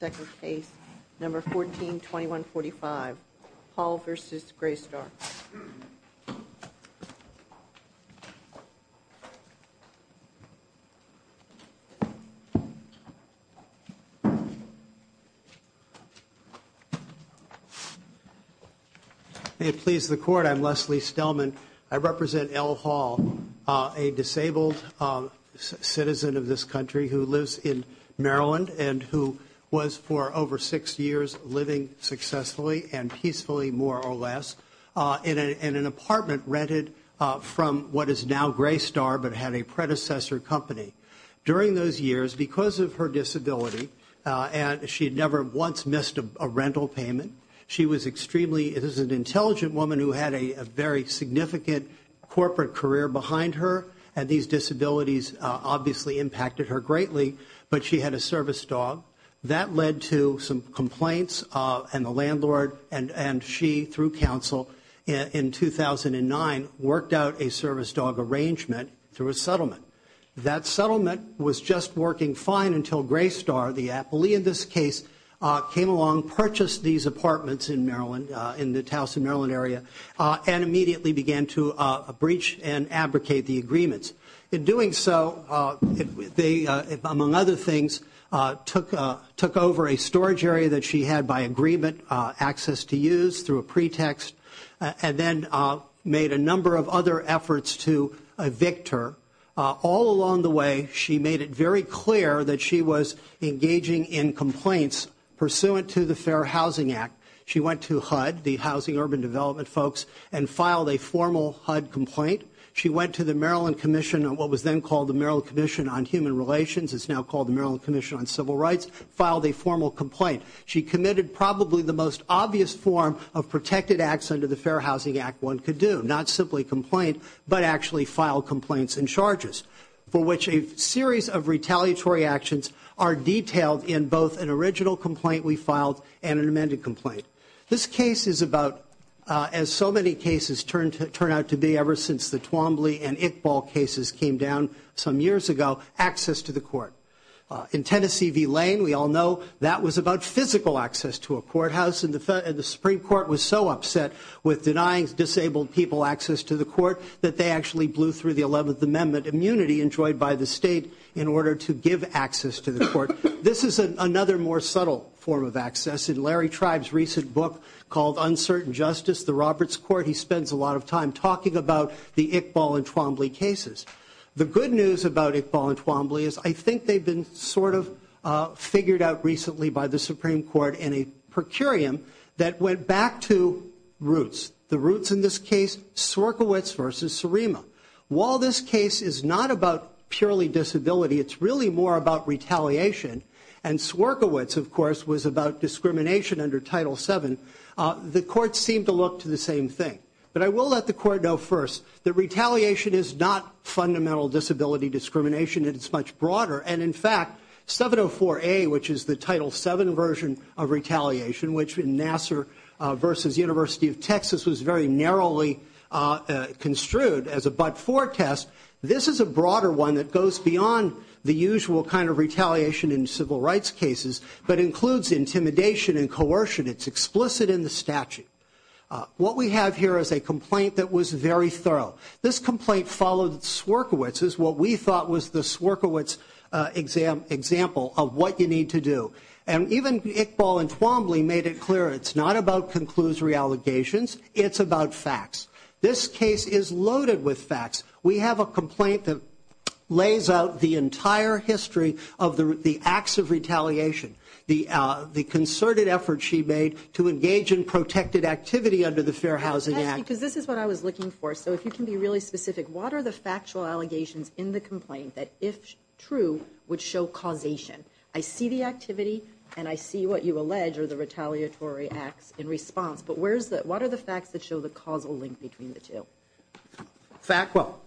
Second case, number 142145, Hall v. Greystar. May it please the Court, I'm Leslie Stellman. I represent L. Hall, a disabled citizen of this country who lives in Maryland and who was for over six years living successfully and peacefully, more or less, in an apartment rented from what is now Greystar, but had a predecessor company. During those years, because of her disability, and she had never once missed a rental payment, she was extremely, it was an intelligent woman who had a very significant corporate career behind her, and these disabilities obviously impacted her greatly, but she had a service dog. That led to some complaints, and the landlord, and she, through counsel, in 2009, worked out a service dog arrangement through a settlement. That settlement was just working fine until Greystar, the appellee in this case, came along, purchased these apartments in Maryland, in the Towson, Maryland area, and immediately began to breach and abrogate the agreements. In doing so, they, among other things, took over a storage area that she had by agreement, access to use through a pretext, and then made a number of other efforts to evict her. All along the way, she made it very clear that she was engaging in complaints pursuant to the Fair Housing Act. She went to HUD, the Housing Urban Development folks, and filed a formal HUD complaint. She went to the Maryland Commission, what was then called the Maryland Commission on Human Relations, it's now called the Maryland Commission on Civil Rights, filed a formal complaint. She committed probably the most obvious form of protected acts under the Fair Housing Act one could do, not simply complaint, but actually file complaints and charges, for which a series of retaliatory actions are detailed in both an original complaint we filed and an amended complaint. This case is about, as so many cases turn out to be ever since the Twombly and Iqbal cases came down some years ago, access to the court. In Tennessee v. Lane, we all know that was about physical access to a courthouse, and the Supreme Court was so upset with denying disabled people access to the court that they actually blew through the 11th Amendment immunity enjoyed by the state in order to give access to the court. This is another more subtle form of access. In Larry Tribe's recent book called Uncertain Justice, the Roberts Court, he spends a lot of time talking about the Iqbal and Twombly cases. The good news about Iqbal and Twombly is I think they've been sort of figured out recently by the Supreme Court in a per curiam that went back to roots. The roots in this case, Sorkowitz v. Surima. While this case is not about purely disability, it's really more about retaliation. And Sorkowitz, of course, was about discrimination under Title VII. The courts seem to look to the same thing. But I will let the court know first that retaliation is not fundamental disability discrimination. It is much broader. And in fact, 704A, which is the Title VII version of retaliation, which in Nassar v. University of Texas was very narrowly construed as a but-for test, this is a broader one that goes beyond the usual kind of retaliation in civil rights cases, but includes intimidation and coercion. It's explicit in the statute. What we have here is a complaint that was very thorough. This complaint followed Sorkowitz, is what we thought was the Sorkowitz example of what you need to do. And even Iqbal and Twombly made it clear it's not about conclusory allegations. It's about facts. This case is loaded with facts. We have a complaint that lays out the entire history of the acts of retaliation, the concerted effort she made to engage in protected activity under the Fair Housing Act. Because this is what I was looking for. So if you can be really specific, what are the factual allegations in the complaint that, if true, would show causation? I see the activity and I see what you allege are the retaliatory acts in response, but what are the facts that show the causal link between the two? Well,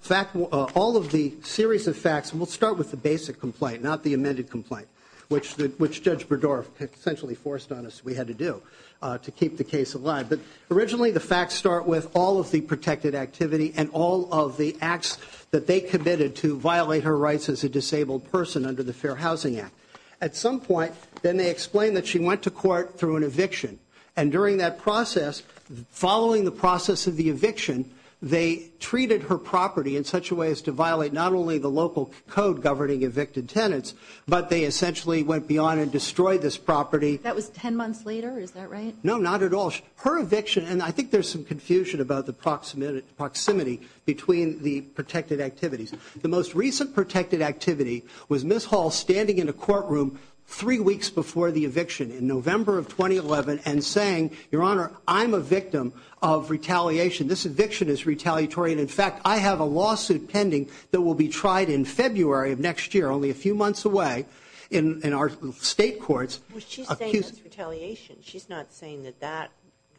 all of the series of facts, and we'll start with the basic complaint, not the amended complaint, which Judge Berdorf essentially forced on us we had to do to keep the case alive. But originally the facts start with all of the protected activity and all of the acts that they committed to violate her rights as a disabled person under the Fair Housing Act. At some point, then they explain that she went to court through an eviction. And during that process, following the process of the eviction, they treated her property in such a way as to violate not only the local code governing evicted tenants, but they essentially went beyond and destroyed this property. That was ten months later, is that right? No, not at all. And I think there's some confusion about the proximity between the protected activities. The most recent protected activity was Ms. Hall standing in a courtroom three weeks before the eviction, in November of 2011, and saying, Your Honor, I'm a victim of retaliation. This eviction is retaliatory and, in fact, I have a lawsuit pending that will be tried in February of next year, only a few months away, in our state courts. Well, she's saying that's retaliation. She's not saying that that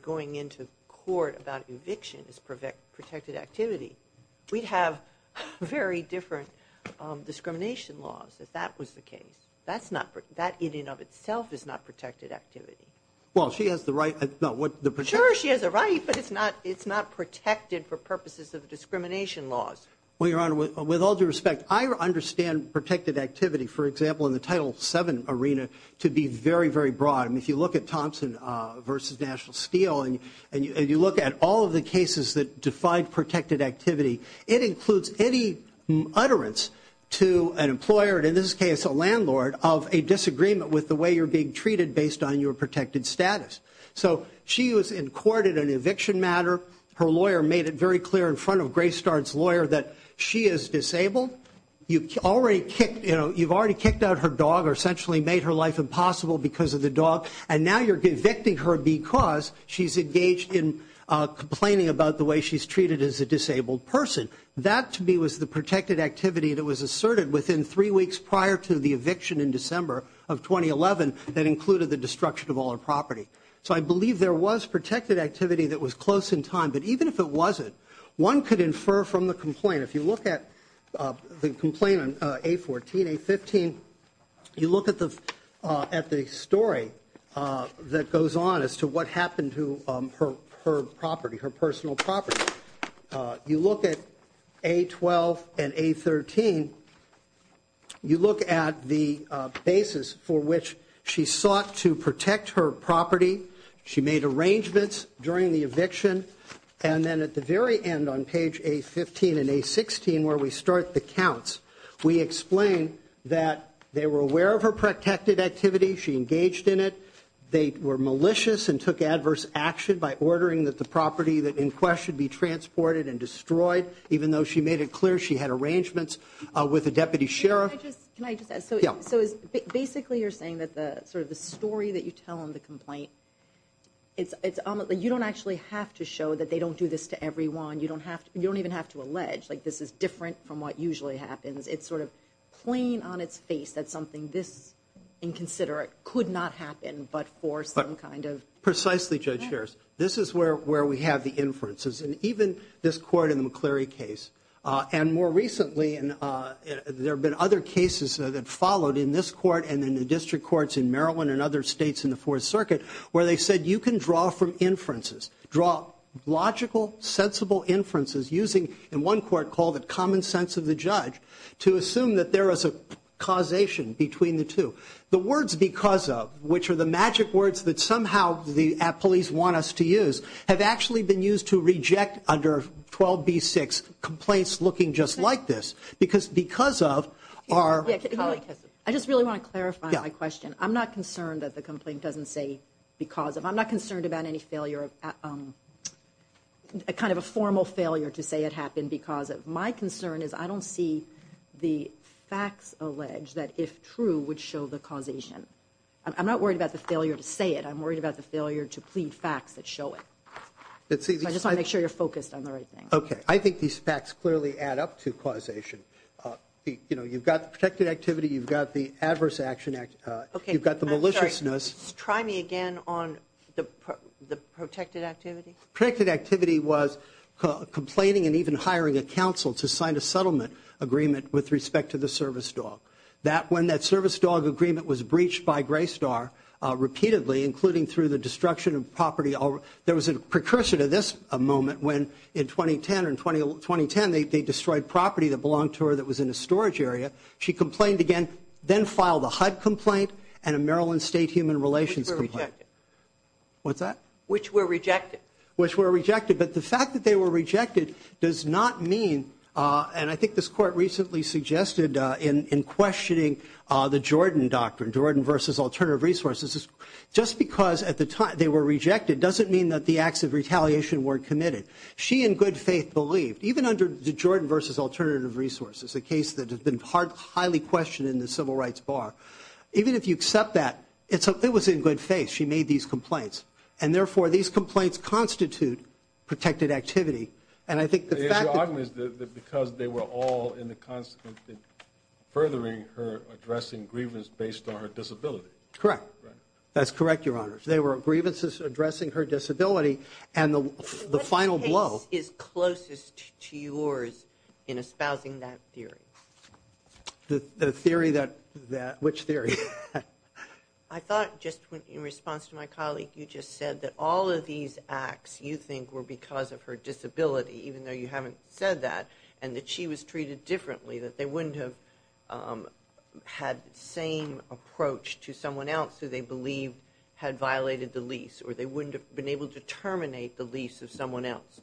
going into court about eviction is protected activity. We'd have very different discrimination laws if that was the case. That in and of itself is not protected activity. Well, she has the right. Sure, she has a right, but it's not protected for purposes of discrimination laws. Well, Your Honor, with all due respect, I understand protected activity, for example, in the Title VII arena to be very, very broad. And if you look at Thompson v. National Steel, and you look at all of the cases that defied protected activity, it includes any utterance to an employer, and in this case a landlord, of a disagreement with the way you're being treated based on your protected status. So she was in court in an eviction matter. Her lawyer made it very clear in front of Graystar's lawyer that she is disabled. You've already kicked out her dog or essentially made her life impossible because of the dog, and now you're evicting her because she's engaged in complaining about the way she's treated as a disabled person. That to me was the protected activity that was asserted within three weeks prior to the eviction in December of 2011 that included the destruction of all her property. So I believe there was protected activity that was close in time. But even if it wasn't, one could infer from the complaint. If you look at the complaint on A14, A15, you look at the story that goes on as to what happened to her property, her personal property. You look at A12 and A13, you look at the basis for which she sought to protect her property. She made arrangements during the eviction. And then at the very end on page A15 and A16 where we start the counts, we explain that they were aware of her protected activity. She engaged in it. They were malicious and took adverse action by ordering that the property that in question be transported and destroyed, even though she made it clear she had arrangements with the deputy sheriff. So basically you're saying that sort of the story that you tell in the complaint, you don't actually have to show that they don't do this to everyone. You don't even have to allege. This is different from what usually happens. It's sort of plain on its face that something this inconsiderate could not happen but for some kind of ‑‑ Precisely, Judge Scherz. This is where we have the inferences. And even this court in the McCleary case. And more recently there have been other cases that followed in this court and in the district courts in Maryland and other states in the Fourth Circuit where they said you can draw from inferences, draw logical, sensible inferences using, in one court called it common sense of the judge, to assume that there is a causation between the two. The words because of, which are the magic words that somehow the police want us to use, have actually been used to reject under 12B6 complaints looking just like this. Because because of our ‑‑ I just really want to clarify my question. I'm not concerned that the complaint doesn't say because of. I'm not concerned about any failure, kind of a formal failure to say it happened because of. My concern is I don't see the facts allege that if true would show the causation. I'm not worried about the failure to say it. I'm worried about the failure to plead facts that show it. I just want to make sure you're focused on the right thing. Okay. I think these facts clearly add up to causation. You've got the protected activity. You've got the adverse action. You've got the maliciousness. Try me again on the protected activity. Protected activity was complaining and even hiring a counsel to sign a settlement agreement with respect to the service dog. That when that service dog agreement was breached by Gray Star repeatedly, including through the destruction of property, there was a precursor to this moment when in 2010 they destroyed property that belonged to her that was in a storage area. She complained again, then filed a HUD complaint and a Maryland State Human Relations complaint. Which were rejected. What's that? Which were rejected. Which were rejected. But the fact that they were rejected does not mean, and I think this court recently suggested in questioning the Jordan doctrine, Jordan versus alternative resources, just because at the time they were rejected doesn't mean that the acts of retaliation weren't committed. She in good faith believed, even under the Jordan versus alternative resources, a case that has been highly questioned in the civil rights bar, even if you accept that, it was in good faith she made these complaints. And, therefore, these complaints constitute protected activity. And I think the fact that The argument is that because they were all in the constant furthering her addressing grievance based on her disability. Correct. That's correct, Your Honors. They were grievances addressing her disability and the final blow Which case is closest to yours in espousing that theory? The theory that, which theory? I thought just in response to my colleague, you just said that all of these acts you think were because of her disability, even though you haven't said that, and that she was treated differently, that they wouldn't have had the same approach to someone else who they believed had violated the lease, or they wouldn't have been able to terminate the lease of someone else.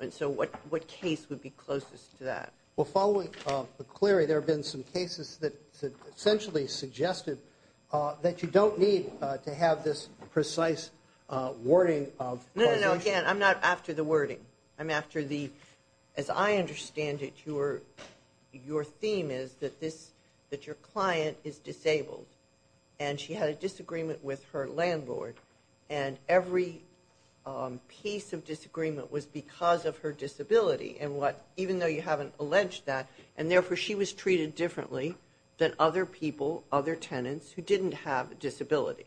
And so what case would be closest to that? Well, following McCleary, there have been some cases that essentially suggested that you don't need to have this precise wording of No, no, no, again, I'm not after the wording. I'm after the, as I understand it, your theme is that this, that your client is disabled, and she had a disagreement with her landlord, and every piece of disagreement was because of her disability, and what, even though you haven't alleged that, and therefore she was treated differently than other people, other tenants who didn't have a disability.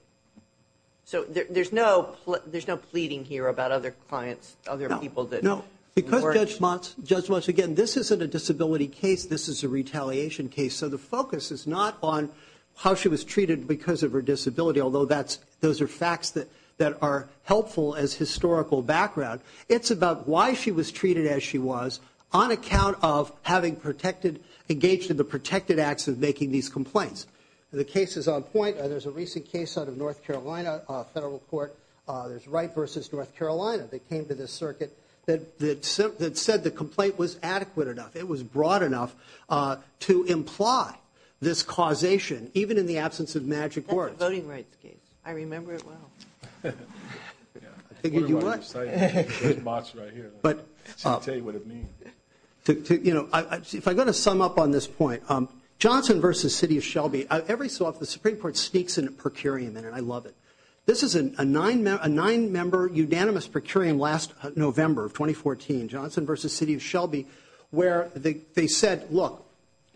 So there's no pleading here about other clients, other people that No, no, because Judge Motz, again, this isn't a disability case. This is a retaliation case. So the focus is not on how she was treated because of her disability, although that's, those are facts that are helpful as historical background. It's about why she was treated as she was on account of having protected, engaged in the protected acts of making these complaints. The case is on point. There's a recent case out of North Carolina Federal Court. There's Wright versus North Carolina that came to this circuit that said the complaint was adequate enough. It was broad enough to imply this causation, even in the absence of magic words. That's a voting rights case. I remember it well. I figured you would. Judge Motz right here. She can tell you what it means. If I'm going to sum up on this point, Johnson versus City of Shelby, every so often the Supreme Court sneaks in a per curiam, and I love it. This is a nine-member unanimous per curiam last November of 2014, Johnson versus City of Shelby, where they said, look,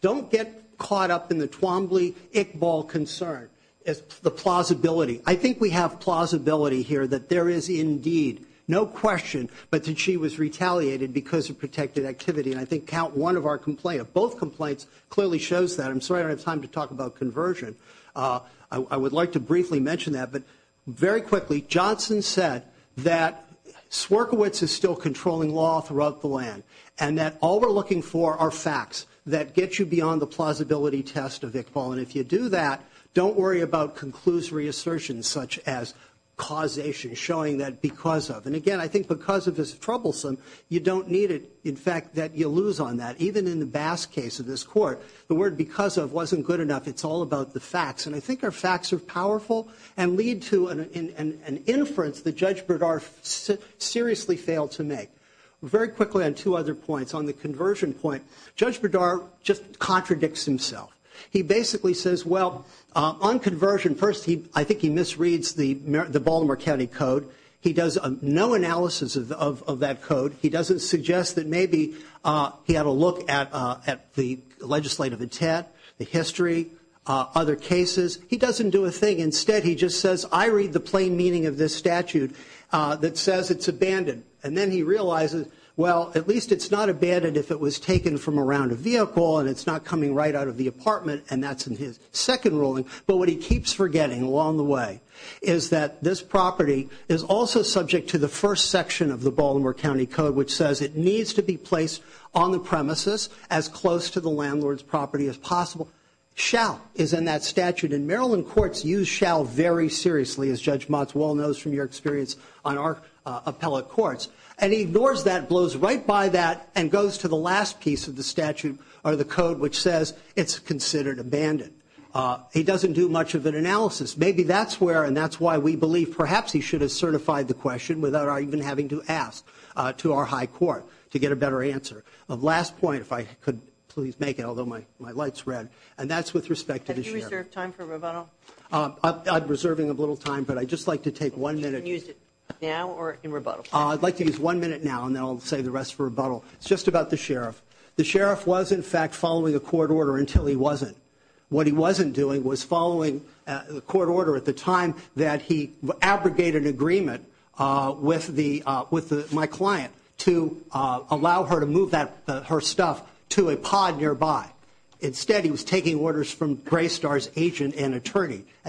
don't get caught up in the Twombly-Iqbal concern. It's the plausibility. I think we have plausibility here that there is indeed, no question, but that she was retaliated because of protected activity, and I think count one of our complaints. Both complaints clearly shows that. I'm sorry I don't have time to talk about conversion. I would like to briefly mention that, but very quickly, Johnson said that Swierkiewicz is still controlling law throughout the land and that all we're looking for are facts that get you beyond the plausibility test of Iqbal, and if you do that, don't worry about conclusory assertions such as causation, showing that because of. And again, I think because of is troublesome. You don't need it, in fact, that you lose on that. Even in the Bass case of this court, the word because of wasn't good enough. It's all about the facts, and I think our facts are powerful and lead to an inference that Judge Berdar seriously failed to make. Very quickly on two other points, on the conversion point, Judge Berdar just contradicts himself. He basically says, well, on conversion, first, I think he misreads the Baltimore County Code. He does no analysis of that code. He doesn't suggest that maybe he had a look at the legislative intent, the history, other cases. He doesn't do a thing. Instead, he just says, I read the plain meaning of this statute that says it's abandoned, and then he realizes, well, at least it's not abandoned if it was taken from around a vehicle and it's not coming right out of the apartment, and that's in his second ruling. But what he keeps forgetting along the way is that this property is also subject to the first section of the Baltimore County Code, which says it needs to be placed on the premises as close to the landlord's property as possible. Shall is in that statute, and Maryland courts use shall very seriously, as Judge Motzwell knows from your experience on our appellate courts. And he ignores that, blows right by that, and goes to the last piece of the statute or the code, which says it's considered abandoned. He doesn't do much of an analysis. Maybe that's where and that's why we believe perhaps he should have certified the question without our even having to ask to our high court to get a better answer. Last point, if I could please make it, although my light's red, and that's with respect to the sheriff. Have you reserved time for rebuttal? I'm reserving a little time, but I'd just like to take one minute. You can use it now or in rebuttal. I'd like to use one minute now, and then I'll save the rest for rebuttal. It's just about the sheriff. The sheriff was, in fact, following a court order until he wasn't. What he wasn't doing was following a court order at the time that he abrogated an agreement with my client to allow her to move her stuff to a pod nearby. At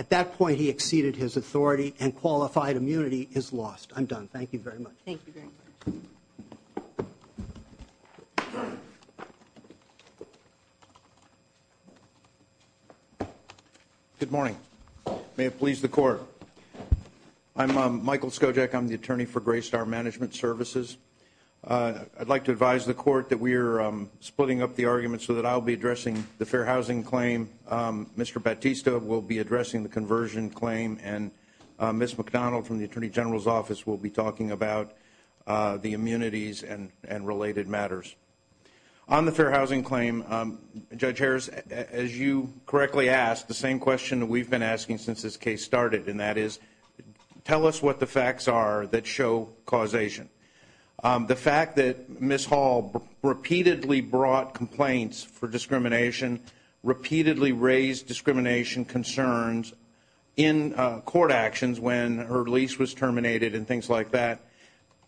that point, he exceeded his authority and qualified immunity is lost. I'm done. Thank you very much. Thank you very much. Good morning. May it please the court. I'm Michael Skojak. I'm the attorney for Graystar Management Services. I'd like to advise the court that we're splitting up the argument so that I'll be addressing the fair housing claim. Mr. Bautista will be addressing the conversion claim, and Ms. McDonald from the Attorney General's Office will be talking about the immunities and related matters. On the fair housing claim, Judge Harris, as you correctly asked, the same question that we've been asking since this case started, and that is, tell us what the facts are that show causation. The fact that Ms. Hall repeatedly brought complaints for discrimination, repeatedly raised discrimination concerns in court actions when her lease was terminated and things like that,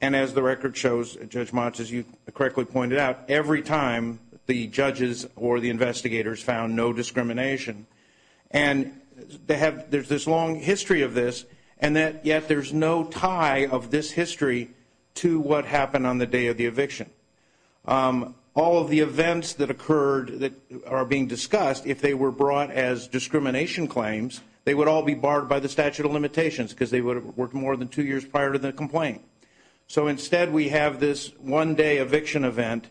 and as the record shows, Judge Motz, as you correctly pointed out, every time the judges or the investigators found no discrimination. And there's this long history of this, and yet there's no tie of this history to what happened on the day of the eviction. All of the events that occurred that are being discussed, if they were brought as discrimination claims, they would all be barred by the statute of limitations because they would have worked more than two years prior to the complaint. So instead we have this one-day eviction event,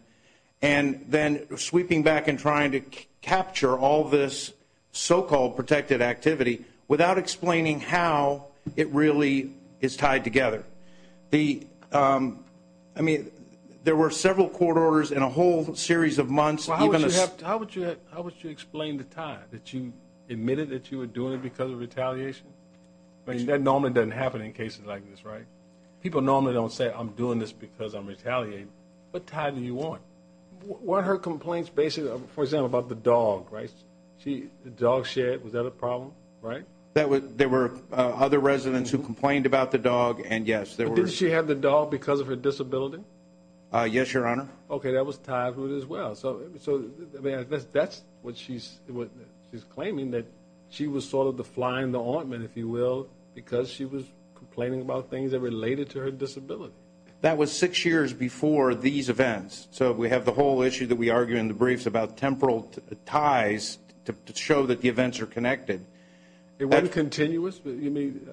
and then sweeping back and trying to capture all this so-called protected activity without explaining how it really is tied together. I mean, there were several court orders in a whole series of months. How would you explain the tie, that you admitted that you were doing it because of retaliation? I mean, that normally doesn't happen in cases like this, right? People normally don't say, I'm doing this because I'm retaliating. What tie do you want? Weren't her complaints basically, for example, about the dog, right? The dog shed, was that a problem, right? There were other residents who complained about the dog, and yes. Did she have the dog because of her disability? Yes, Your Honor. Okay, that was tied to it as well. So that's what she's claiming, that she was sort of the fly in the ointment, if you will, because she was complaining about things that related to her disability. That was six years before these events. So we have the whole issue that we argue in the briefs about temporal ties to show that the events are connected. It wasn't continuous. I mean,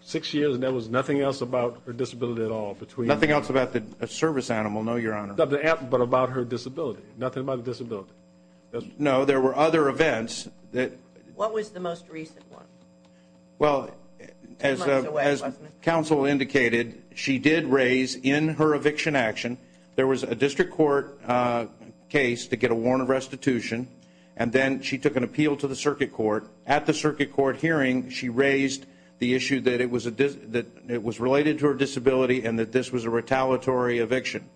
six years, and there was nothing else about her disability at all? Nothing else about the service animal, no, Your Honor. But about her disability, nothing about the disability. No, there were other events. What was the most recent one? Well, as counsel indicated, she did raise in her eviction action, there was a district court case to get a warrant of restitution, and then she took an appeal to the circuit court. At the circuit court hearing, she raised the issue that it was related to her disability and that this was a retaliatory eviction.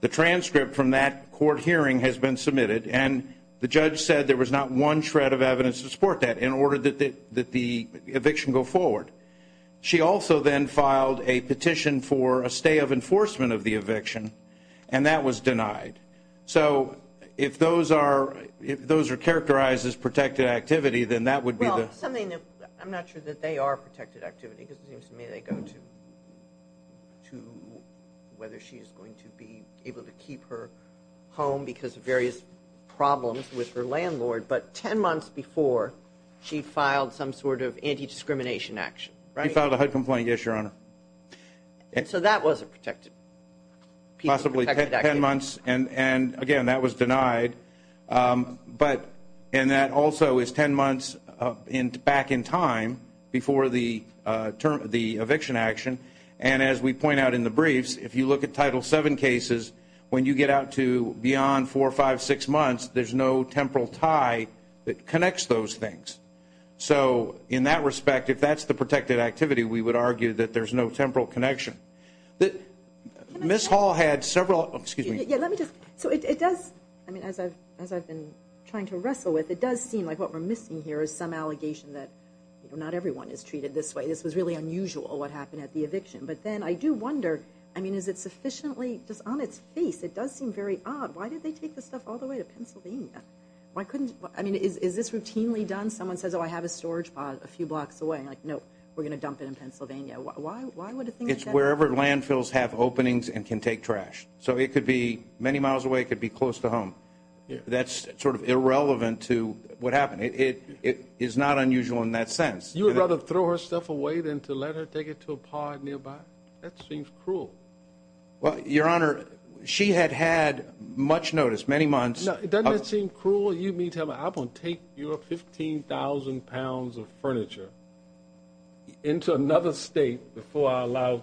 The transcript from that court hearing has been submitted, and the judge said there was not one shred of evidence to support that in order that the eviction go forward. She also then filed a petition for a stay of enforcement of the eviction, and that was denied. So if those are characterized as protected activity, then that would be the – Well, something that – I'm not sure that they are protected activity, because it seems to me they go to whether she is going to be able to keep her home because of various problems with her landlord. But 10 months before, she filed some sort of anti-discrimination action, right? She filed a HUD complaint, yes, Your Honor. And so that was a protected – Possibly 10 months, and again, that was denied. But – and that also is 10 months back in time before the eviction action. And as we point out in the briefs, if you look at Title VII cases, when you get out to beyond four, five, six months, there's no temporal tie that connects those things. So in that respect, if that's the protected activity, we would argue that there's no temporal connection. Ms. Hall had several – excuse me. Yeah, let me just – so it does – I mean, as I've been trying to wrestle with, it does seem like what we're missing here is some allegation that not everyone is treated this way. This was really unusual, what happened at the eviction. But then I do wonder, I mean, is it sufficiently – just on its face, it does seem very odd. Why did they take this stuff all the way to Pennsylvania? Why couldn't – I mean, is this routinely done? Someone says, oh, I have a storage pod a few blocks away. I'm like, nope, we're going to dump it in Pennsylvania. Why would a thing like that happen? It's wherever landfills have openings and can take trash. So it could be many miles away. It could be close to home. That's sort of irrelevant to what happened. It is not unusual in that sense. You would rather throw her stuff away than to let her take it to a pod nearby? That seems cruel. Well, Your Honor, she had had much notice, many months. Doesn't that seem cruel? You mean to tell me, I'm going to take your 15,000 pounds of furniture into another state before I allow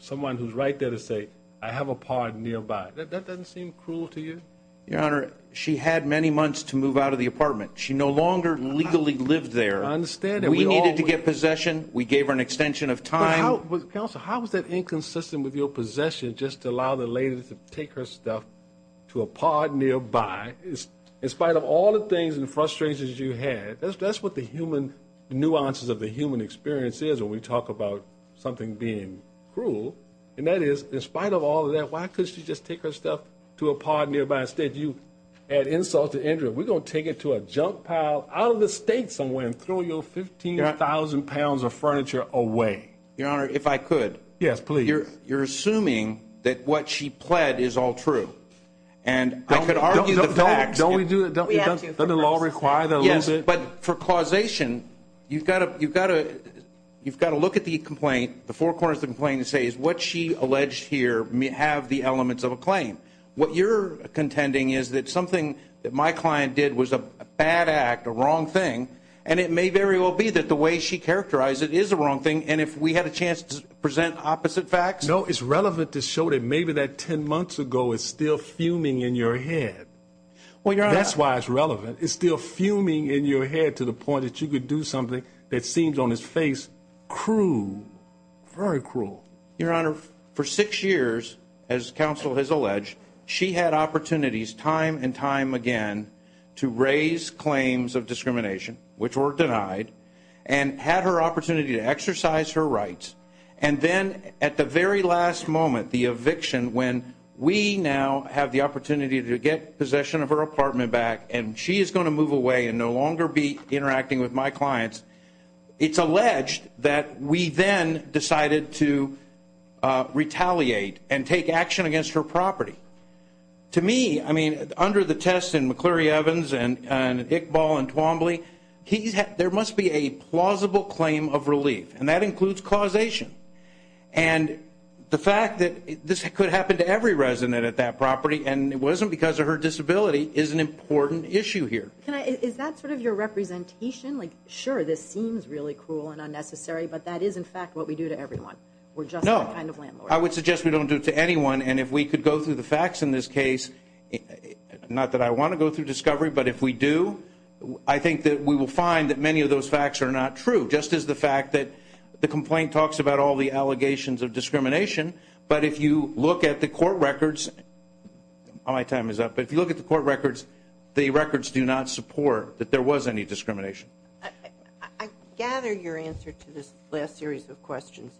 someone who's right there to say, I have a pod nearby. That doesn't seem cruel to you? Your Honor, she had many months to move out of the apartment. She no longer legally lived there. We needed to get possession. We gave her an extension of time. Counsel, how is that inconsistent with your possession, just to allow the lady to take her stuff to a pod nearby? In spite of all the things and frustrations you had, that's what the nuances of the human experience is when we talk about something being cruel. And that is, in spite of all of that, why couldn't she just take her stuff to a pod nearby? Instead, you add insult to injury. We're going to take it to a junk pile out of the state somewhere and throw your 15,000 pounds of furniture away. Your Honor, if I could. Yes, please. You're assuming that what she pled is all true. And I could argue the facts. Don't we do it? Doesn't the law require that a little bit? Yes, but for causation, you've got to look at the complaint, the four corners of the complaint, and say, does what she alleged here have the elements of a claim? What you're contending is that something that my client did was a bad act, a wrong thing, and it may very well be that the way she characterized it is a wrong thing, and if we had a chance to present opposite facts? No, it's relevant to show that maybe that 10 months ago is still fuming in your head. That's why it's relevant. It's still fuming in your head to the point that you could do something that seems on its face cruel, very cruel. Your Honor, for six years, as counsel has alleged, she had opportunities time and time again to raise claims of discrimination, which were denied, and had her opportunity to exercise her rights, and then at the very last moment, the eviction, when we now have the opportunity to get possession of her apartment back and she is going to move away and no longer be interacting with my clients, it's alleged that we then decided to retaliate and take action against her property. To me, I mean, under the test in McCleary Evans and Iqbal and Twombly, there must be a plausible claim of relief, and that includes causation, and the fact that this could happen to every resident at that property and it wasn't because of her disability is an important issue here. Is that sort of your representation? Like, sure, this seems really cruel and unnecessary, but that is, in fact, what we do to everyone. We're just that kind of landlord. No, I would suggest we don't do it to anyone, and if we could go through the facts in this case, not that I want to go through discovery, but if we do, I think that we will find that many of those facts are not true, just as the fact that the complaint talks about all the allegations of discrimination, I gather your answer to this last series of questions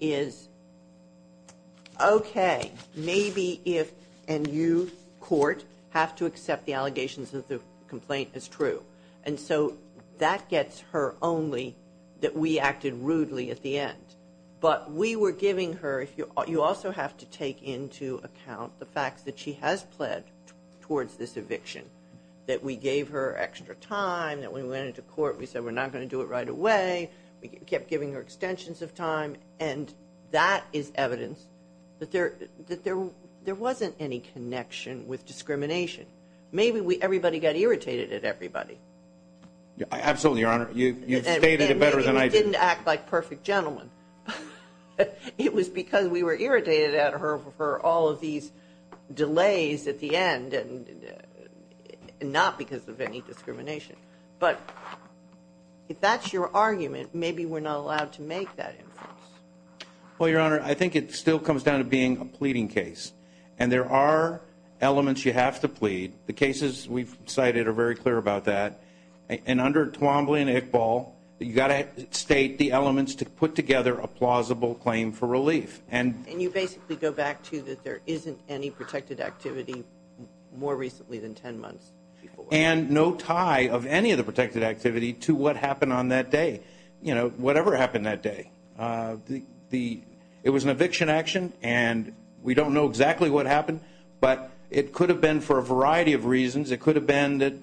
is, okay, maybe if, and you, court, have to accept the allegations that the complaint is true, and so that gets her only that we acted rudely at the end, but we were giving her, you also have to take into account the fact that she has pled towards this eviction, that we gave her extra time, that when we went into court we said we're not going to do it right away, we kept giving her extensions of time, and that is evidence that there wasn't any connection with discrimination. Maybe everybody got irritated at everybody. Absolutely, Your Honor. You've stated it better than I do. And maybe we didn't act like perfect gentlemen. It was because we were irritated at her for all of these delays at the end, and not because of any discrimination. But if that's your argument, maybe we're not allowed to make that inference. Well, Your Honor, I think it still comes down to being a pleading case, and there are elements you have to plead. The cases we've cited are very clear about that, and under Twombly and Iqbal, you've got to state the elements to put together a plausible claim for relief. And you basically go back to that there isn't any protected activity more recently than ten months before. And no tie of any of the protected activity to what happened on that day, whatever happened that day. It was an eviction action, and we don't know exactly what happened, but it could have been for a variety of reasons. It could have been that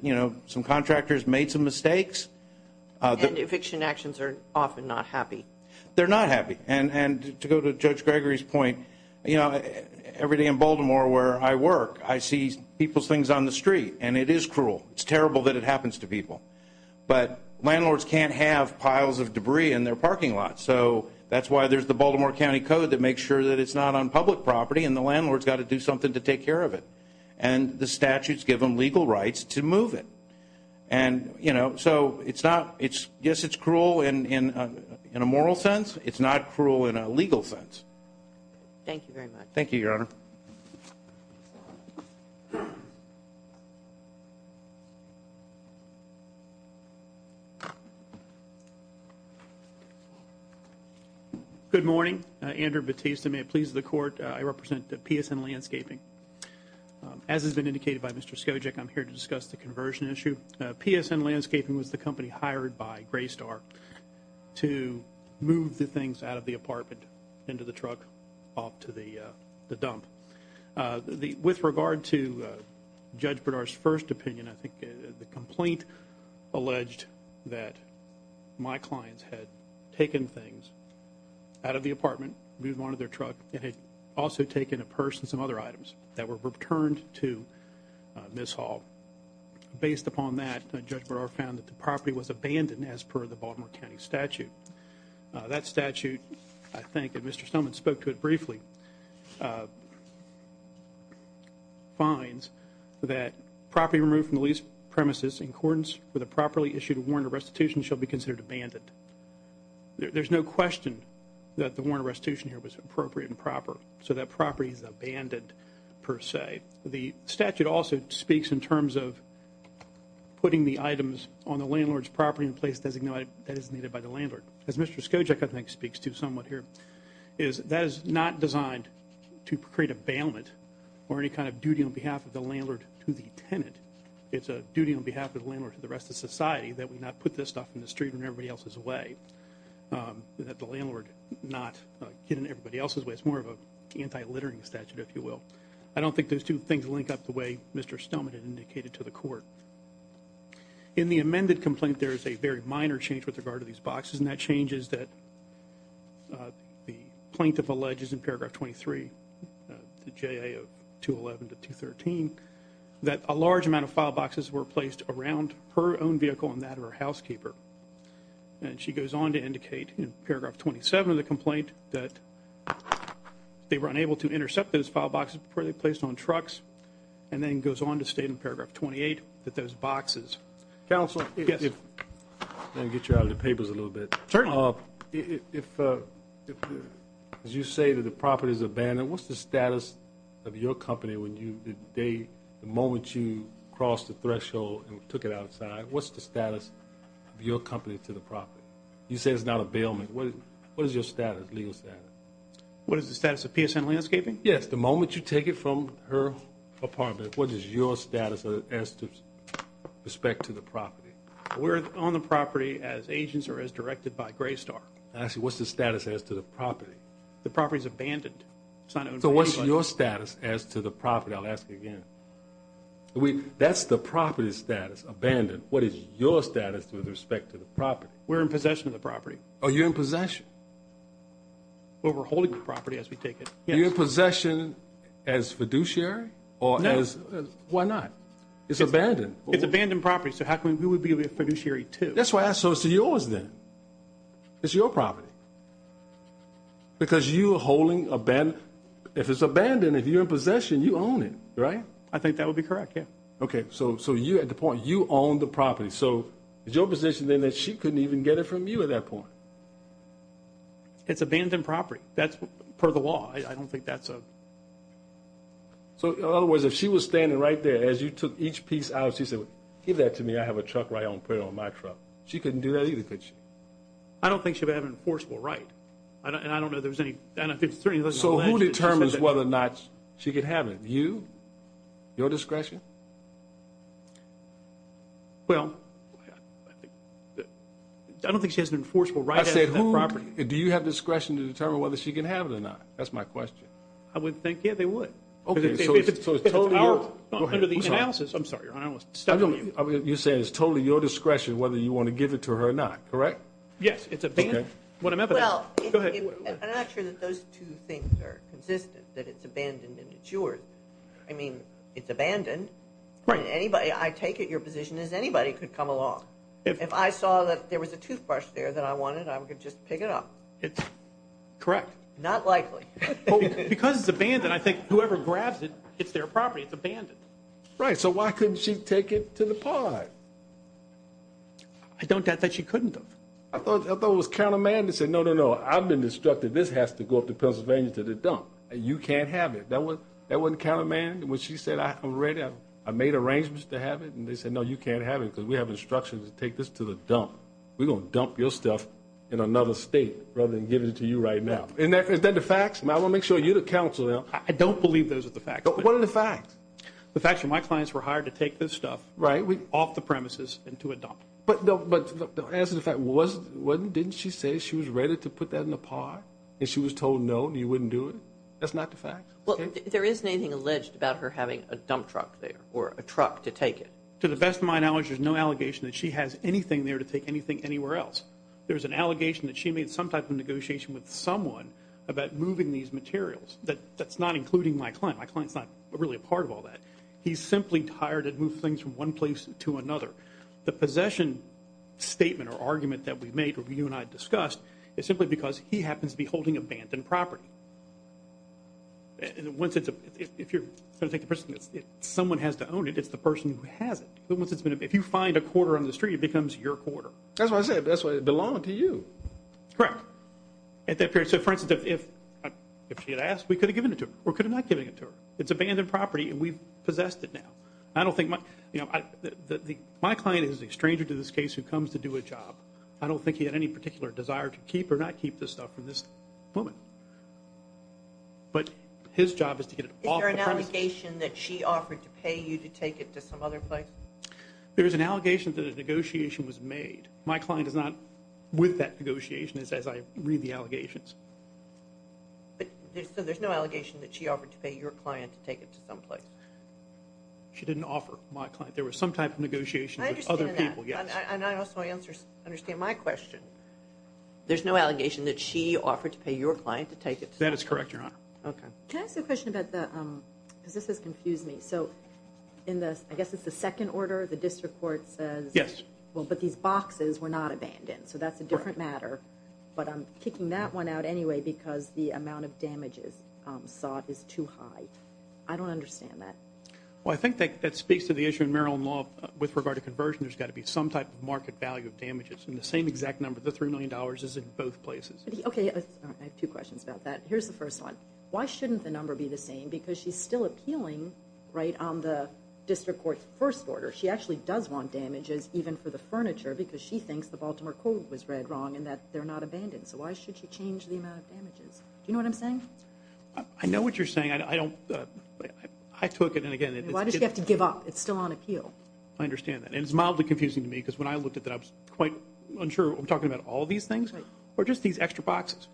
some contractors made some mistakes. And eviction actions are often not happy. They're not happy. And to go to Judge Gregory's point, every day in Baltimore where I work, I see people's things on the street, and it is cruel. It's terrible that it happens to people. But landlords can't have piles of debris in their parking lot, so that's why there's the Baltimore County Code that makes sure that it's not on public property and the landlord's got to do something to take care of it. And the statutes give them legal rights to move it. And, you know, so I guess it's cruel in a moral sense. It's not cruel in a legal sense. Thank you very much. Thank you, Your Honor. Good morning. Andrew Batista. May it please the Court. I represent PSN Landscaping. As has been indicated by Mr. Skojic, I'm here to discuss the conversion issue. PSN Landscaping was the company hired by Graystar to move the things out of the apartment, into the truck, off to the dump. With regard to Judge Bredar's first opinion, I think the complaint alleged that my clients had taken things out of the apartment, moved them onto their truck, and had also taken a purse and some other items that were returned to Ms. Hall. Based upon that, Judge Bredar found that the property was abandoned as per the Baltimore County statute. That statute, I think, and Mr. Stoneman spoke to it briefly, finds that property removed from the lease premises in accordance with a properly issued warrant of restitution shall be considered abandoned. There's no question that the warrant of restitution here was appropriate and proper, so that property is abandoned per se. The statute also speaks in terms of putting the items on the landlord's property in place designated that is needed by the landlord. As Mr. Skojic, I think, speaks to somewhat here, is that is not designed to create a bailment or any kind of duty on behalf of the landlord to the tenant. It's a duty on behalf of the landlord to the rest of society that we not put this stuff in the street in everybody else's way, that the landlord not get in everybody else's way. It's more of an anti-littering statute, if you will. I don't think those two things link up the way Mr. Stoneman had indicated to the court. In the amended complaint, there is a very minor change with regard to these boxes, and that change is that the plaintiff alleges in paragraph 23, J.A. 211 to 213, that a large amount of file boxes were placed around her own vehicle and that of her housekeeper. And she goes on to indicate in paragraph 27 of the complaint that they were unable to intercept those file boxes before they were placed on trucks and then goes on to state in paragraph 28 that those boxes. Counsel, let me get you out of the papers a little bit. Certainly. If, as you say, the property is abandoned, what's the status of your company the moment you crossed the threshold and took it outside? What's the status of your company to the property? You say it's not a bailment. What is your status, legal status? What is the status of PSN Landscaping? Yes. The moment you take it from her apartment, what is your status as to respect to the property? We're on the property as agents or as directed by Graystar. Actually, what's the status as to the property? The property is abandoned. So what's your status as to the property? I'll ask again. That's the property's status, abandoned. What is your status with respect to the property? We're in possession of the property. Oh, you're in possession? Well, we're holding the property as we take it. You're in possession as fiduciary? No. Why not? It's abandoned. It's abandoned property. So who would be a fiduciary to? That's why I asked. So it's yours then. It's your property. Because you are holding abandoned. If it's abandoned, if you're in possession, you own it, right? I think that would be correct, yeah. Okay. So you at the point, you own the property. So is your position then that she couldn't even get it from you at that point? It's abandoned property. That's per the law. I don't think that's a. So in other words, if she was standing right there as you took each piece out, she said, Give that to me. I have a truck right on my truck. She couldn't do that either, could she? I don't think she would have an enforceable right. And I don't know if there's any. So who determines whether or not she can have it? You? Your discretion? Well, I don't think she has an enforceable right. I said who. Do you have discretion to determine whether she can have it or not? That's my question. I would think, yeah, they would. Okay. So it's totally your. Under the analysis. I'm sorry. I almost. You're saying it's totally your discretion whether you want to give it to her or not, correct? Yes. It's a. Well, I'm not sure that those two things are consistent, that it's abandoned and it's yours. I mean, it's abandoned. Right. Anybody. I take it your position is anybody could come along. If I saw that there was a toothbrush there that I wanted, I could just pick it up. It's correct. Not likely because it's abandoned. I think whoever grabs it, it's their property. It's abandoned. Right. So why couldn't she take it to the pod? I don't doubt that she couldn't have. I thought it was countermand that said, no, no, no. I've been instructed this has to go up to Pennsylvania to the dump. You can't have it. That wasn't countermand. When she said, I'm ready, I made arrangements to have it. And they said, no, you can't have it because we have instructions to take this to the dump. We're going to dump your stuff in another state rather than give it to you right now. Is that the facts? I want to make sure you're the counselor. I don't believe those are the facts. What are the facts? The fact that my clients were hired to take this stuff. Right. Off the premises and to a dump. But the answer to that was, didn't she say she was ready to put that in the pod? And she was told, no, you wouldn't do it? That's not the facts? Well, there isn't anything alleged about her having a dump truck there or a truck to take it. To the best of my knowledge, there's no allegation that she has anything there to take anything anywhere else. There's an allegation that she made some type of negotiation with someone about moving these materials. That's not including my client. My client's not really a part of all that. He's simply tired of moving things from one place to another. The possession statement or argument that we made, or you and I discussed, is simply because he happens to be holding abandoned property. If you're going to take the person, someone has to own it. It's the person who has it. If you find a quarter on the street, it becomes your quarter. That's what I said. That's why it belonged to you. Correct. So, for instance, if she had asked, we could have given it to her or could have not given it to her. It's abandoned property and we've possessed it now. My client is a stranger to this case who comes to do a job. I don't think he had any particular desire to keep or not keep this stuff from this woman. But his job is to get it off the premises. Is there an allegation that she offered to pay you to take it to some other place? There is an allegation that a negotiation was made. So there's no allegation that she offered to pay your client to take it to some place? She didn't offer my client. There was some type of negotiation with other people. I understand that. And I also understand my question. There's no allegation that she offered to pay your client to take it to some place? That is correct, Your Honor. Okay. Can I ask a question about the, because this has confused me. So, I guess it's the second order, the district court says, well, but these boxes were not abandoned. So that's a different matter. But I'm kicking that one out anyway because the amount of damages sought is too high. I don't understand that. Well, I think that speaks to the issue in Maryland law with regard to conversion. There's got to be some type of market value of damages. And the same exact number, the $3 million, is in both places. Okay. I have two questions about that. Here's the first one. Why shouldn't the number be the same? Because she's still appealing, right, on the district court's first order. She actually does want damages even for the furniture because she thinks the Baltimore Code was read wrong and that they're not abandoned. So why should she change the amount of damages? Do you know what I'm saying? I know what you're saying. I don't, I took it, and, again, it's Why does she have to give up? It's still on appeal. I understand that. And it's mildly confusing to me because when I looked at that, I was quite unsure. We're talking about all these things? Right. Or just these extra boxes?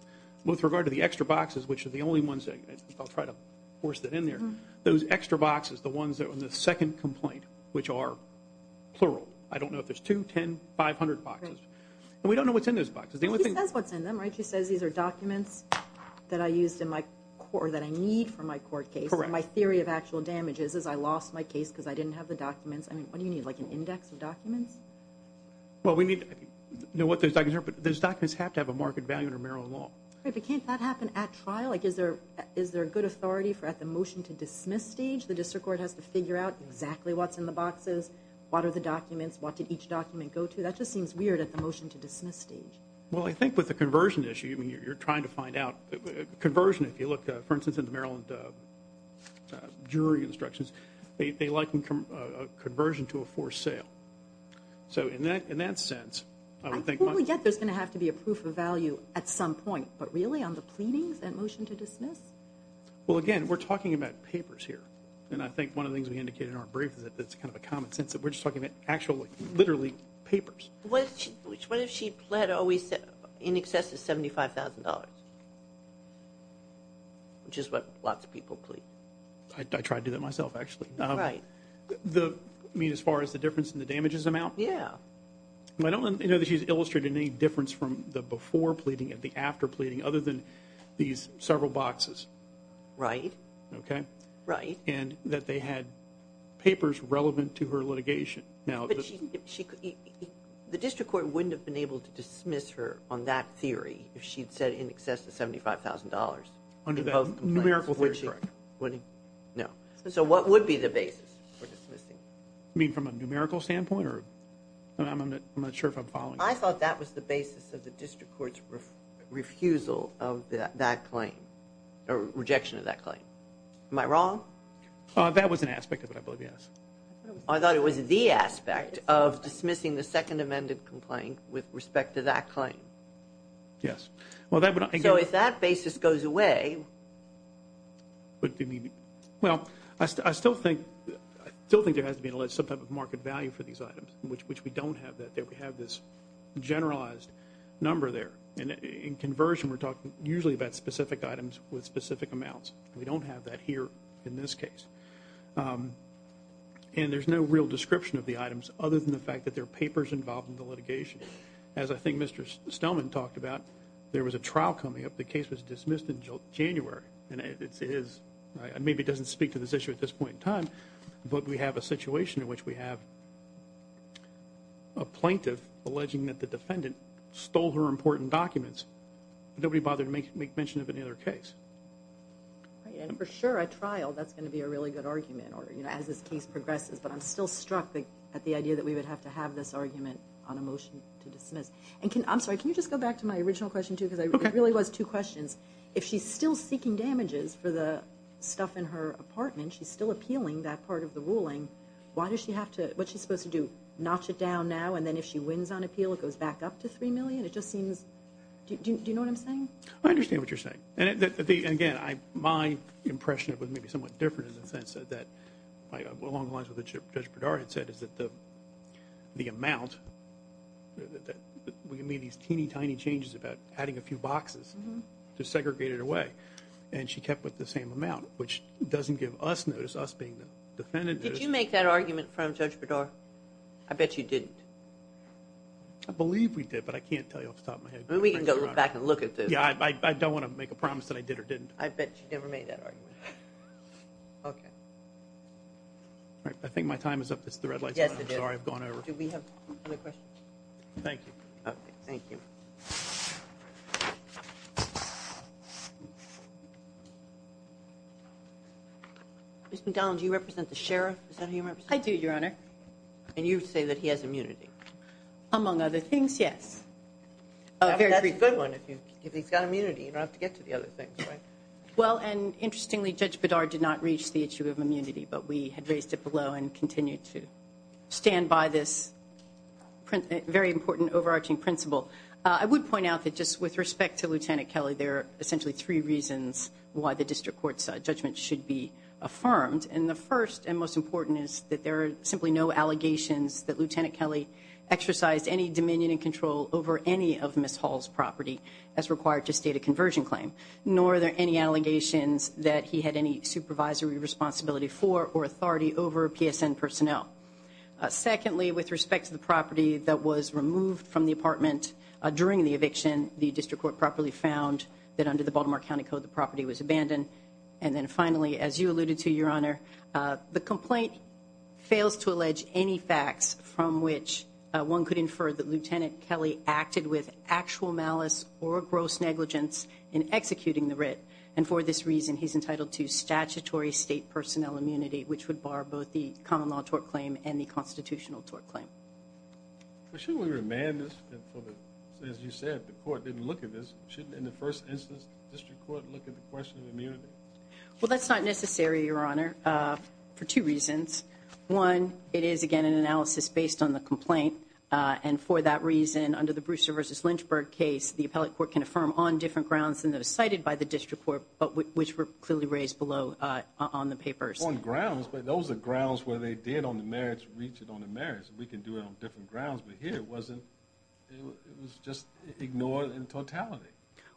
With regard to the extra boxes, which are the only ones that, I'll try to force that in there, those extra boxes, the ones on the second complaint, which are plural. I don't know if there's two, 10, 500 boxes. Right. And we don't know what's in those boxes. The only thing She says what's in them, right? She says these are documents that I used in my court or that I need for my court case. Correct. And my theory of actual damages is I lost my case because I didn't have the documents. I mean, what do you need, like an index of documents? Well, we need to know what those documents are, but those documents have to have a market value under Maryland law. Right, but can't that happen at trial? Like, is there a good authority for at the motion-to-dismiss stage, the district court has to figure out exactly what's in the boxes, what are the documents, what did each document go to? That just seems weird at the motion-to-dismiss stage. Well, I think with the conversion issue, I mean, you're trying to find out. Conversion, if you look, for instance, into Maryland jury instructions, they liken conversion to a forced sale. So in that sense, I would think I totally get there's going to have to be a proof of value at some point, but really on the pleadings and motion-to-dismiss? Well, again, we're talking about papers here, and I think one of the things we indicated in our brief is that it's kind of a common sense that we're just talking about actually, literally, papers. What if she pled always in excess of $75,000, which is what lots of people plead? I tried to do that myself, actually. Right. I mean, as far as the difference in the damages amount? Yeah. I don't know that she's illustrated any difference from the before pleading and the after pleading other than these several boxes. Right. Okay? Right. And that they had papers relevant to her litigation. But the district court wouldn't have been able to dismiss her on that theory if she'd said in excess of $75,000. Under that numerical theory, correct. No. So what would be the basis for dismissing? You mean from a numerical standpoint? I'm not sure if I'm following you. I thought that was the basis of the district court's refusal of that claim or rejection of that claim. Am I wrong? That was an aspect of it, I believe, yes. I thought it was the aspect of dismissing the second amended complaint with respect to that claim. Yes. So if that basis goes away. Well, I still think there has to be some type of market value for these items, which we don't have that. We have this generalized number there. In conversion, we're talking usually about specific items with specific amounts. We don't have that here in this case. And there's no real description of the items other than the fact that there are papers involved in the litigation. As I think Mr. Stelman talked about, there was a trial coming up. The case was dismissed in January. It maybe doesn't speak to this issue at this point in time, but we have a situation in which we have a plaintiff alleging that the defendant stole her important documents. Nobody bothered to make mention of any other case. And for sure, a trial, that's going to be a really good argument, as this case progresses. But I'm still struck at the idea that we would have to have this argument on a motion to dismiss. And I'm sorry, can you just go back to my original question, too, because it really was two questions. If she's still seeking damages for the stuff in her apartment, she's still appealing that part of the ruling, what's she supposed to do, notch it down now, and then if she wins on appeal it goes back up to $3 million? Do you know what I'm saying? I understand what you're saying. And again, my impression of it may be somewhat different in the sense that, along the lines of what Judge Berdara had said, is that the amount that we made these teeny tiny changes about adding a few boxes to segregate it away, and she kept with the same amount, which doesn't give us notice, us being the defendant. Did you make that argument in front of Judge Berdara? I bet you didn't. I believe we did, but I can't tell you off the top of my head. We can go back and look at this. Yeah, I don't want to make a promise that I did or didn't. I bet you never made that argument. Okay. All right, I think my time is up. It's the red light. Yes, it is. I'm sorry, I've gone over. Do we have other questions? Thank you. Okay, thank you. Ms. McGowan, do you represent the sheriff? Is that who you represent? I do, Your Honor. And you say that he has immunity. Among other things, yes. That's a good one. If he's got immunity, you don't have to get to the other things, right? Well, and interestingly, Judge Berdara did not reach the issue of immunity, but we had raised it below and continue to stand by this very important, overarching principle. I would point out that just with respect to Lieutenant Kelly, there are essentially three reasons why the district court's judgment should be affirmed. And the first and most important is that there are simply no allegations that Lieutenant Kelly exercised any dominion and control over any of Ms. Hall's property as required to state a conversion claim, nor are there any allegations that he had any supervisory responsibility for or authority over PSN personnel. Secondly, with respect to the property that was removed from the apartment during the eviction, the district court properly found that under the Baltimore County Code, the property was abandoned. And then finally, as you alluded to, Your Honor, the complaint fails to allege any facts from which one could infer that Lieutenant Kelly acted with actual malice or gross negligence in executing the writ. And for this reason, he's entitled to statutory state personnel immunity, which would bar both the common law tort claim and the constitutional tort claim. Shouldn't we remand this? As you said, the court didn't look at this. Shouldn't in the first instance, district court look at the question of immunity? Well, that's not necessary, Your Honor, for two reasons. One, it is again an analysis based on the complaint. And for that reason, under the Brewster versus Lynchburg case, the appellate court can affirm on different grounds than those cited by the district court, but which were clearly raised below on the papers. On grounds, but those are grounds where they did on the marriage, reach it on the marriage. We can do it on different grounds, but here it wasn't. It was just ignored in totality.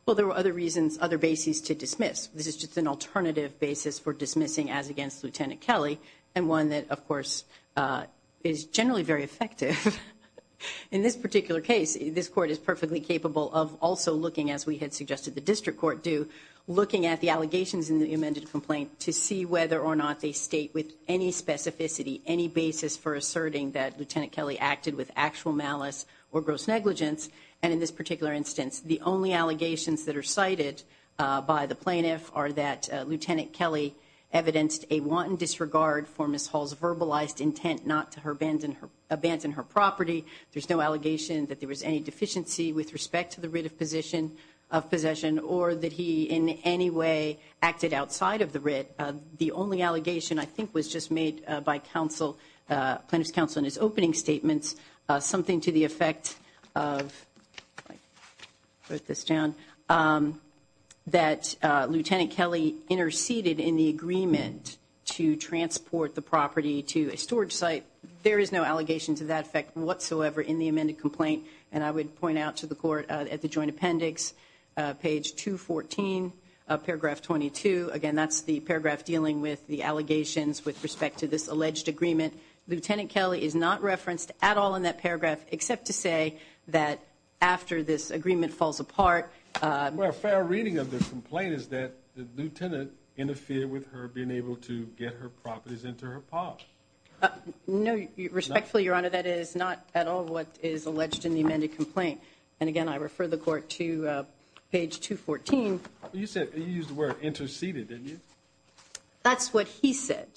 Well, there were other reasons, other bases to dismiss. This is just an alternative basis for dismissing as against Lieutenant Kelly. And one that of course, uh, is generally very effective in this particular case. This court is perfectly capable of also looking as we had suggested, the district court do looking at the allegations in the amended complaint to see whether or not they state with any specificity, any basis for asserting that Lieutenant Kelly acted with actual malice or gross negligence. And in this particular instance, the only allegations that are cited, uh, by the plaintiff are that, uh, Lieutenant Kelly evidenced a wanton disregard for Ms. Hall's verbalized intent, not to her band and her abandoned her property. There's no allegation that there was any deficiency with respect to the writ of position of possession, or that he in any way acted outside of the writ. Uh, the only allegation I think was just made, uh, by counsel, uh, plaintiff's counsel in his opening statements, uh, something to the effect of. I wrote this down, um, that, uh, Lieutenant Kelly interceded in the agreement to transport the property to a storage site. There is no allegation to that effect whatsoever in the amended complaint. And I would point out to the court, uh, at the joint appendix, uh, page two 14, uh, paragraph 22. Again, that's the paragraph dealing with the allegations with respect to this alleged agreement. Lieutenant Kelly is not referenced at all in that paragraph, except to say that after this agreement falls apart, uh, where a fair reading of this complaint is that the Lieutenant interfere with her, being able to get her properties into her park. Uh, no, respectfully, your honor. That is not at all. What is alleged in the amended complaint. I refer the court to, uh, page two 14. You said you used the word interceded. Didn't you? That's what he said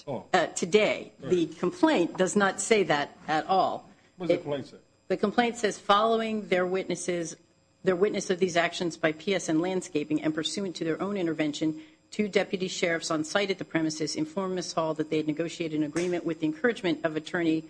today. The complaint does not say that at all. The complaint says following their witnesses, their witness of these actions by PSN landscaping and pursuant to their own intervention to deputy sheriffs on site at the premises, inform us all that they had negotiated an agreement with encouragement of attorney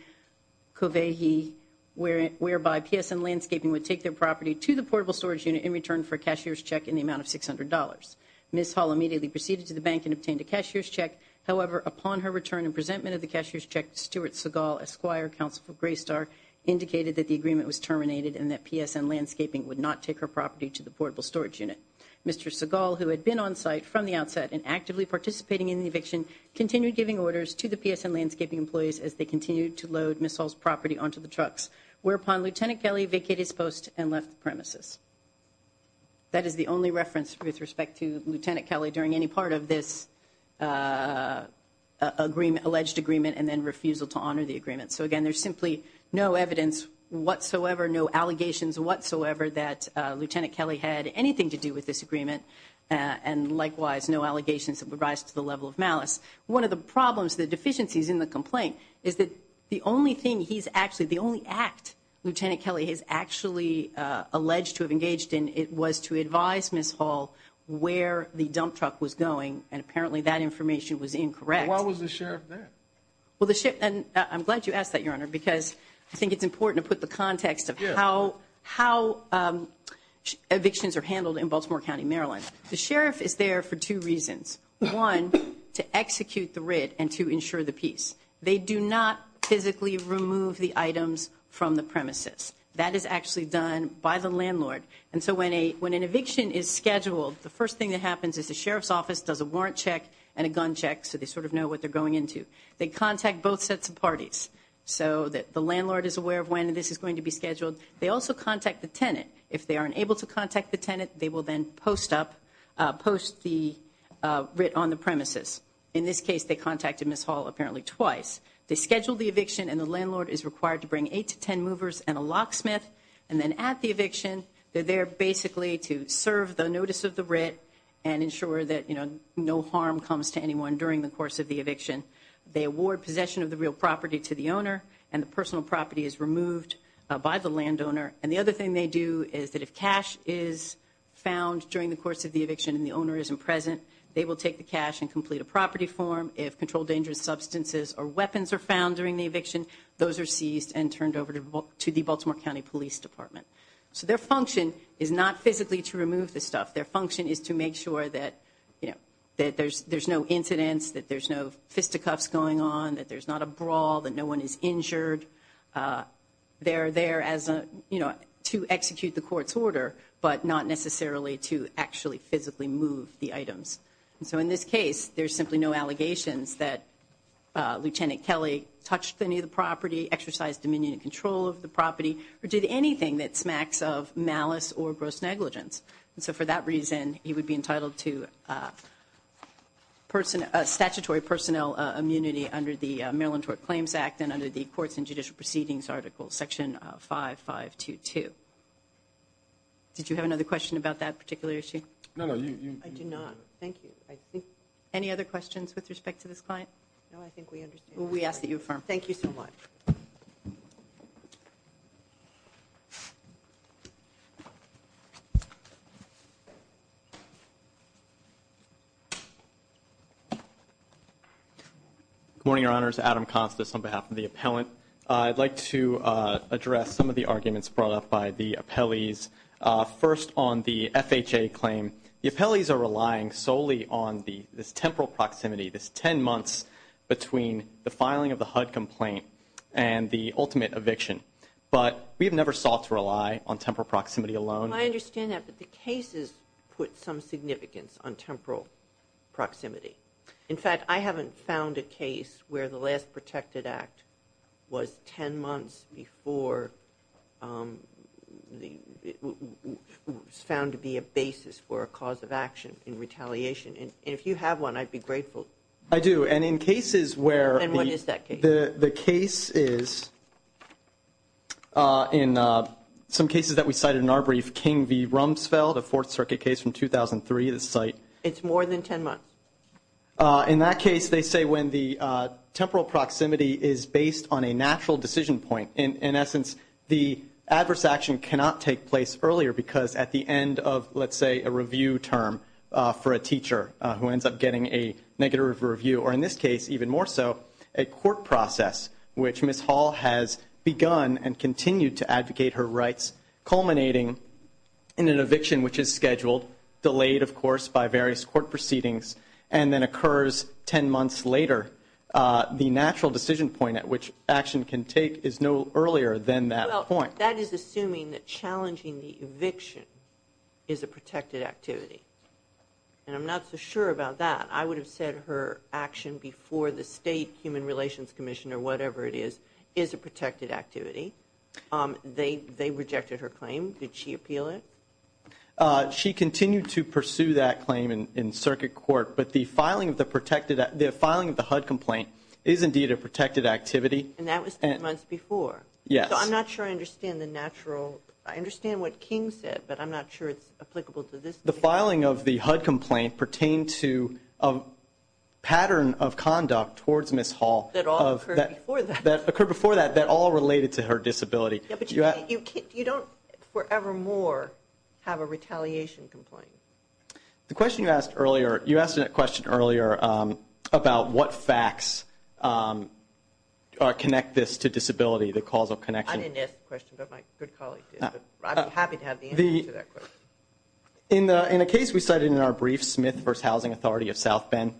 Covey. He where, whereby PSN landscaping would take their property to the portable storage unit in return for cashier's check in the amount of $600. Ms. Hall immediately proceeded to the bank and obtained a cashier's check. However, upon her return and presentment of the cashier's check, Stuart Seagal, Esquire counsel for gray star indicated that the agreement was terminated and that PSN landscaping would not take her property to the portable storage unit. Mr. Seagal, who had been on site from the outset and actively participating in the eviction, continued giving orders to the PSN landscaping employees as they continued to load missiles property onto the trucks whereupon Lieutenant Kelly vacated his post and left the premises. That is the only reference with respect to Lieutenant Kelly during any part of this, uh, uh, a Daniel to honor the agreement. So again, there's simply no evidence whatsoever, no allegations whatsoever that a Lieutenant Kelly had anything to do with this agreement. Uh, and likewise, no allegations of rise to the level of malice. One of the problems, the deficiencies in the complaint is that the only thing he's actually the only act Lieutenant Kelly has actually, uh, alleged to have engaged in, it was to advise miss hall where the dump truck was going. And apparently that information was incorrect. Why was the sheriff there? Well, the ship and I'm glad you asked that your honor, because I think it's important to put the context of how, how, um, evictions are handled in Baltimore County, Maryland. The sheriff is there for two reasons. One to execute the writ and to ensure the peace. They do not physically remove the items from the premises that is actually done by the landlord. And so when a, when an eviction is scheduled, the first thing that happens is the sheriff's office does a warrant check and a gun check. So they sort of know what they're going into. They contact both sets of parties so that the landlord is aware of when, and this is going to be scheduled. They also contact the tenant. If they aren't able to contact the tenant, they will then post up, uh, post the, uh, writ on the premises. In this case, they contacted miss hall apparently twice. They scheduled the eviction and the landlord is required to bring eight to 10 movers and a locksmith. And then at the eviction, they're there basically to serve the notice of the writ and ensure that, you know, no harm comes to anyone during the course of the eviction. They award possession of the real property to the owner and the personal property is removed by the landowner. And the other thing they do is that if cash is found during the course of the eviction and the owner isn't present, they will take the cash and complete a property form. If controlled dangerous substances or weapons are found during the eviction, those are seized and turned over to the Baltimore County police department. So their function is not physically to remove this stuff. Their function is to make sure that, you know, that there's, there's no incidents, that there's no fisticuffs going on, that there's not a brawl, that no one is injured. Uh, they're there as a, you know, to execute the court's order, but not necessarily to actually physically move the items. And so in this case, there's simply no allegations that, uh, Lieutenant Kelly touched any of the property, exercise dominion and control of the property or did anything that smacks of malice or gross negligence. And so for that reason, he would be entitled to, uh, person, uh, statutory personnel, uh, immunity under the Maryland court claims act and under the courts and judicial proceedings article section, uh, five, five, two, two. Did you have another question about that particular issue? No, no, you, you, I do not. Thank you. I think any other questions with respect to this client? No, I think we understand. We ask that you affirm. Thank you so much. Thank you. Thank you. Thank you. Thank you. Thank you. Thank you. Thank you. Good morning, your honors Adam consciousness on behalf of the appellant. Uh, I'd like to, uh, address some of the arguments brought up by the appellees. Uh, first on the FHA claim, the appellees are relying solely on the, this temporal proximity, this 10 months between the filing of the HUD complaint. And the ultimate eviction, but we have never sought to rely on temporal proximity alone. I understand that, but the cases put some significance on temporal proximity. In fact, I haven't found a case where the last protected act was 10 months before, um, the found to be a basis for a cause of action in retaliation. And if you have one, I'd be grateful. I do. And in cases where, the case is, uh, in, uh, some cases that we cited in our brief King V Rumsfeld, a fourth circuit case from 2003, the site it's more than 10 months. Uh, in that case, they say when the, uh, temporal proximity is based on a natural decision point. And in essence, the adverse action cannot take place earlier because at the end of, let's say a review term, uh, for a teacher who ends up getting a negative review, or in this case, even more so a court process, which Ms. Hall has begun and continued to advocate her rights culminating in an eviction, which is scheduled delayed, of course, by various court proceedings, and then occurs 10 months later. Uh, the natural decision point at which action can take is no earlier than that point. That is assuming that challenging the eviction is a protected activity. And I'm not so sure about that. I would have said her action before the state human relations commissioner, whatever it is, is a protected activity. Um, they, they rejected her claim. Did she appeal it? Uh, she continued to pursue that claim in circuit court, but the filing of the protected, the filing of the HUD complaint is indeed a protected activity. And that was 10 months before. Yes. I'm not sure. I understand the natural. I understand what King said, but I'm not sure it's applicable to this. The filing of the HUD complaint pertained to a pattern of conduct towards Ms. Hall that occurred before that, that all related to her disability. You don't forevermore have a retaliation complaint. The question you asked earlier, you asked a question earlier, um, about what facts, um, uh, connect this to disability, the causal connection. I didn't ask the question, but my good colleague did, but I'm happy to have the answer to that question. In the, in a case we cited in our brief Smith versus Housing Authority of South Bend,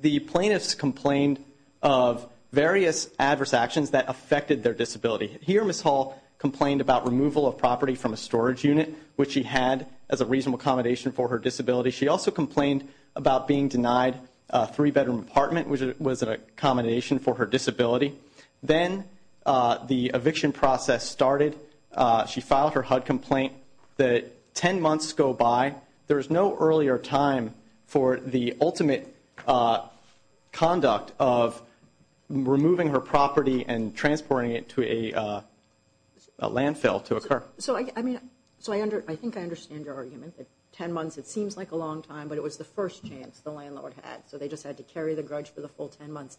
the plaintiffs complained of various adverse actions that affected their disability here. Ms. Hall complained about removal of property from a storage unit, which she had as a reasonable accommodation for her disability. She also complained about being denied a three bedroom apartment, which was an accommodation for her disability. Then, uh, the eviction process started. Uh, she filed her HUD complaint that 10 months go by. There is no earlier time for the ultimate, uh, conduct of removing her property and transporting it to a, uh, a landfill to occur. So I, I mean, so I under, I think I understand your argument that 10 months, it seems like a long time, but it was the first chance the landlord had. So they just had to carry the grudge for the full 10 months.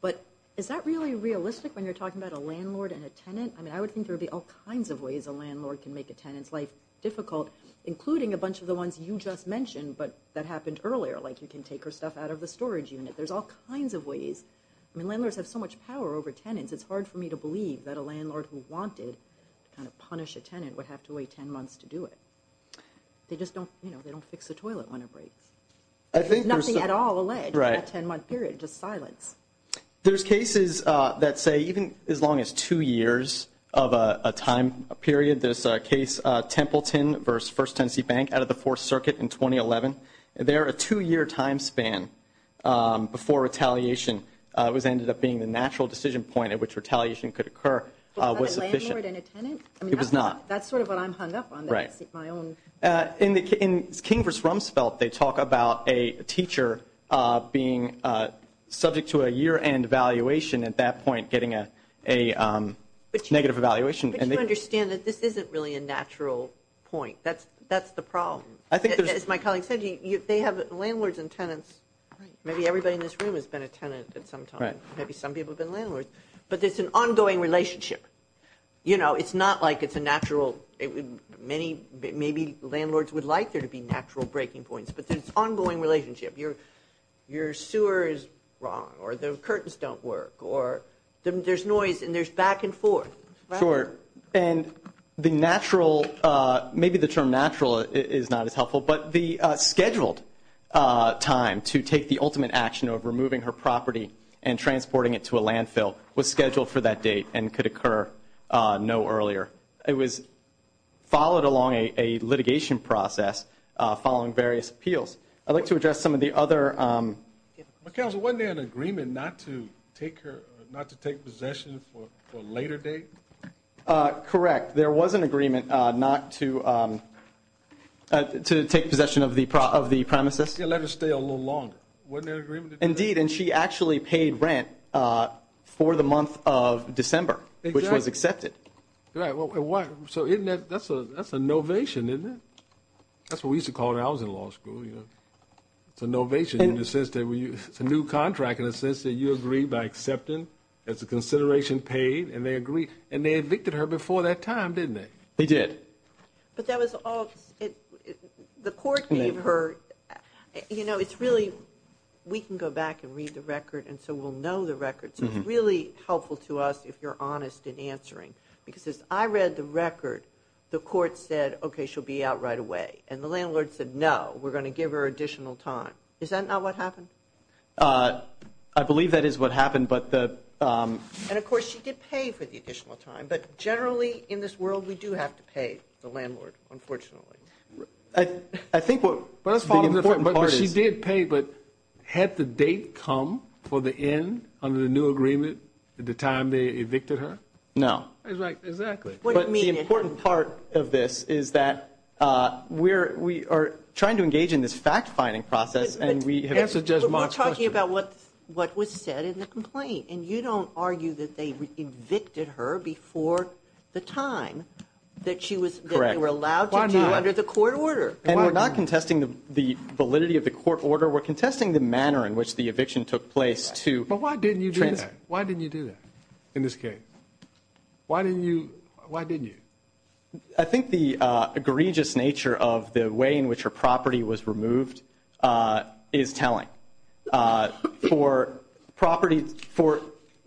But is that really realistic when you're talking about a landlord and a tenant? I mean, I would think there'd be all kinds of ways a landlord can make a tenant's life difficult, including a bunch of the ones you just mentioned, but that happened earlier. Like you can take her stuff out of the storage unit. There's all kinds of ways. I mean, landlords have so much power over tenants. It's hard for me to believe that a landlord who wanted to kind of punish a tenant would have to wait 10 months to do it. They just don't, you know, they don't fix the toilet when it breaks. I think there's nothing at all alleged, right? 10 month period, just silence. There's cases that say even as long as two years, of a time period, there's a case, a Templeton versus first Tennessee bank out of the fourth circuit in 2011. They're a two year time span before retaliation was ended up being the natural decision point at which retaliation could occur. I was efficient. I mean, it was not, that's sort of what I'm hung up on. Right. My own. In the, in King versus Rumsfeld, they talk about a teacher being subject to a year end valuation at that point, getting a, a negative evaluation and they understand that this isn't really a natural point. That's, that's the problem. I think as my colleagues said, you, they have landlords and tenants. Right. Maybe everybody in this room has been a tenant at some time. Maybe some people have been landlords, but there's an ongoing relationship. You know, it's not like it's a natural, many, maybe landlords would like there to be natural breaking points, but there's ongoing relationship. Your, your sewer is wrong or the curtains don't work or there's noise and there's back and forth. Sure. And the natural, maybe the term natural is not as helpful, but the scheduled time to take the ultimate action of removing her property and transporting it to a landfill was scheduled for that date and could occur no earlier. It was followed along a litigation process following various appeals. I'd like to address some of the other, um, but council, wasn't there an agreement not to take her, not to take possession for, for later date? Uh, correct. There was an agreement, uh, not to, um, uh, to take possession of the pro of the premises and let her stay a little longer. Wasn't there an agreement? Indeed. And she actually paid rent, uh, for the month of December, which was accepted. Right. Well, why? So isn't that, that's a, that's a novation, isn't it? That's what we used to call it. I was in law school, you know, it's a novation in the sense that we, it's a new contract in a sense that you agree by accepting as a consideration paid and they agree. And they evicted her before that time, didn't they? They did, but that was all it, the court gave her, you know, it's really, we can go back and read the record. And so we'll know the records. It's really helpful to us if you're honest in answering, because as I read the record, the court said, okay, she'll be out right away. And the landlord said, no, we're going to give her additional time. Is that not what happened? Uh, I believe that is what happened, but the, um. And of course she did pay for the additional time, but generally in this world, we do have to pay the landlord, unfortunately. I, I think what was the important part is. She did pay, but had the date come for the end under the new agreement at the time they evicted her? No. Exactly. But the important part of this is that, uh, we're, we are trying to engage in this fact finding process. And we have, we're talking about what, what was said in the complaint. And you don't argue that they evicted her before the time that she was correct. We're allowed to do under the court order. And we're not contesting the validity of the court order. We're contesting the manner in which the eviction took place too. But why didn't you do that? Why didn't you do that in this case? Why didn't you, why didn't you, I think the, uh, egregious nature of the way in which her property was removed, uh, is telling, uh, for property for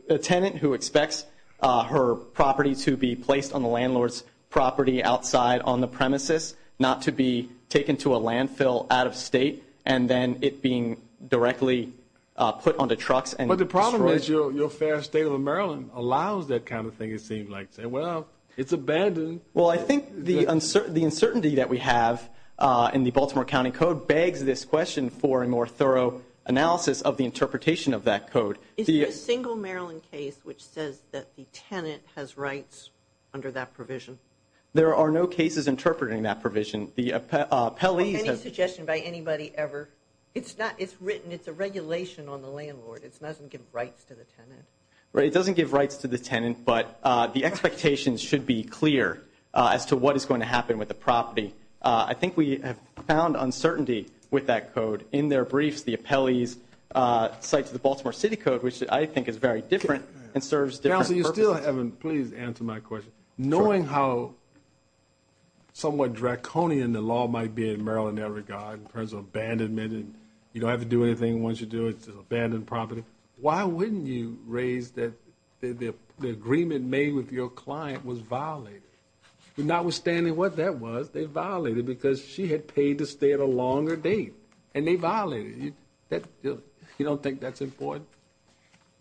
a tenant who expects, uh, her property to be placed on the landlord's property outside on the premises, not to be taken to a landfill out of state. And then it being directly, uh, put onto trucks. And, but the problem is your, your fair state of Maryland allows that kind of thing. It seemed like, say, well, it's abandoned. Well, I think the uncertainty, the uncertainty that we have, uh, in the Baltimore County code begs this question for a more thorough analysis of the interpretation of that code. The single Maryland case, which says that the tenant has rights under that provision. There are no cases interpreting that provision. The, uh, Pelley's suggestion by anybody ever. It's not, it's written. I mean, it's a regulation on the landlord. It's, it doesn't give rights to the tenant, right? It doesn't give rights to the tenant, but, uh, the expectations should be clear, uh, as to what is going to happen with the property. Uh, I think we have found uncertainty with that code in their briefs, the appellees, uh, sites of the Baltimore city code, which I think is very different and serves different. So you still haven't, please answer my question. Knowing how somewhat draconian the law might be in Maryland, in that regard, in terms of abandonment, and you don't have to do anything. Once you do it, it's an abandoned property. Why wouldn't you raise that? The agreement made with your client was violated. Not withstanding what that was, they violated because she had paid to stay at a longer date and they violated you. That you don't think that's important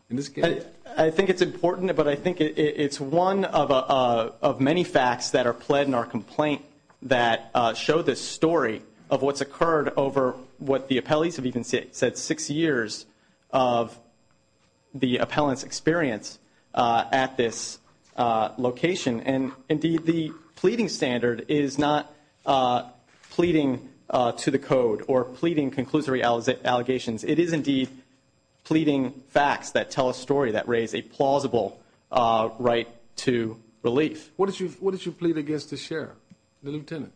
in this case. I think it's important, but I think it's one of, uh, of many facts that are pled in our complaint that, uh, show this story of what's occurred over what the appellees have even said, said six years of the appellants experience, uh, at this, uh, location. And indeed the pleading standard is not, uh, pleading, uh, to the code or pleading conclusive reality allegations. It is indeed pleading facts that tell a story that raised a plausible, uh, right to relief. What did you, what did you plead against the share? The Lieutenant,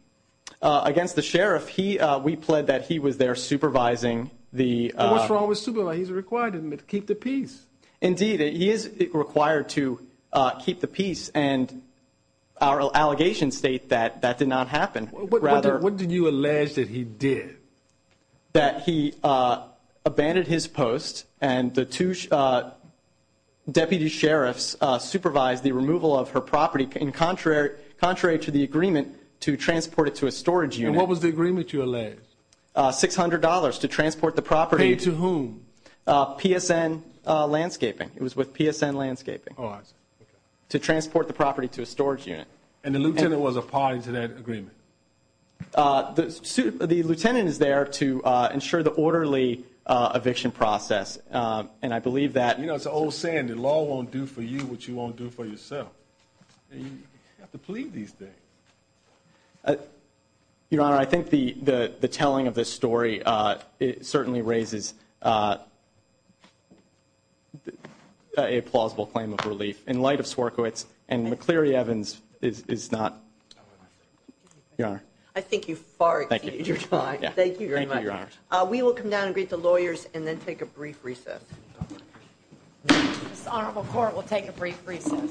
uh, against the sheriff. He, uh, we pled that he was there supervising the, uh, what's wrong with supervise. He's required to keep the peace. Indeed. He is required to, uh, keep the peace and our allegations state that that did not happen. Rather. What did you allege that he did that? He, uh, abandoned his post and the two, uh, deputy sheriffs, uh, supervised the removal of her property in contrary, contrary to the agreement to transport it to a storage unit. What was the agreement you allege? Uh, $600 to transport the property to whom, uh, PSN, uh, landscaping. It was with PSN landscaping to transport the property to a storage unit. And the Lieutenant was a party to that agreement. Uh, the suit, the Lieutenant is there to, uh, ensure the orderly, uh, eviction process. Uh, and I believe that, you know, it's an old saying, the law won't do for you what you won't do for yourself. You have to plead these things. Uh, Your Honor, I think the, the, the telling of this story, uh, it certainly raises, uh, uh, a plausible claim of relief in light of Swierkiewicz and McCleary Evans is, is not. Your Honor. I think you far exceeded your time. Thank you very much. Uh, we will come down and greet the lawyers and then take a brief recess. This honorable court will take a brief recess. Thank you.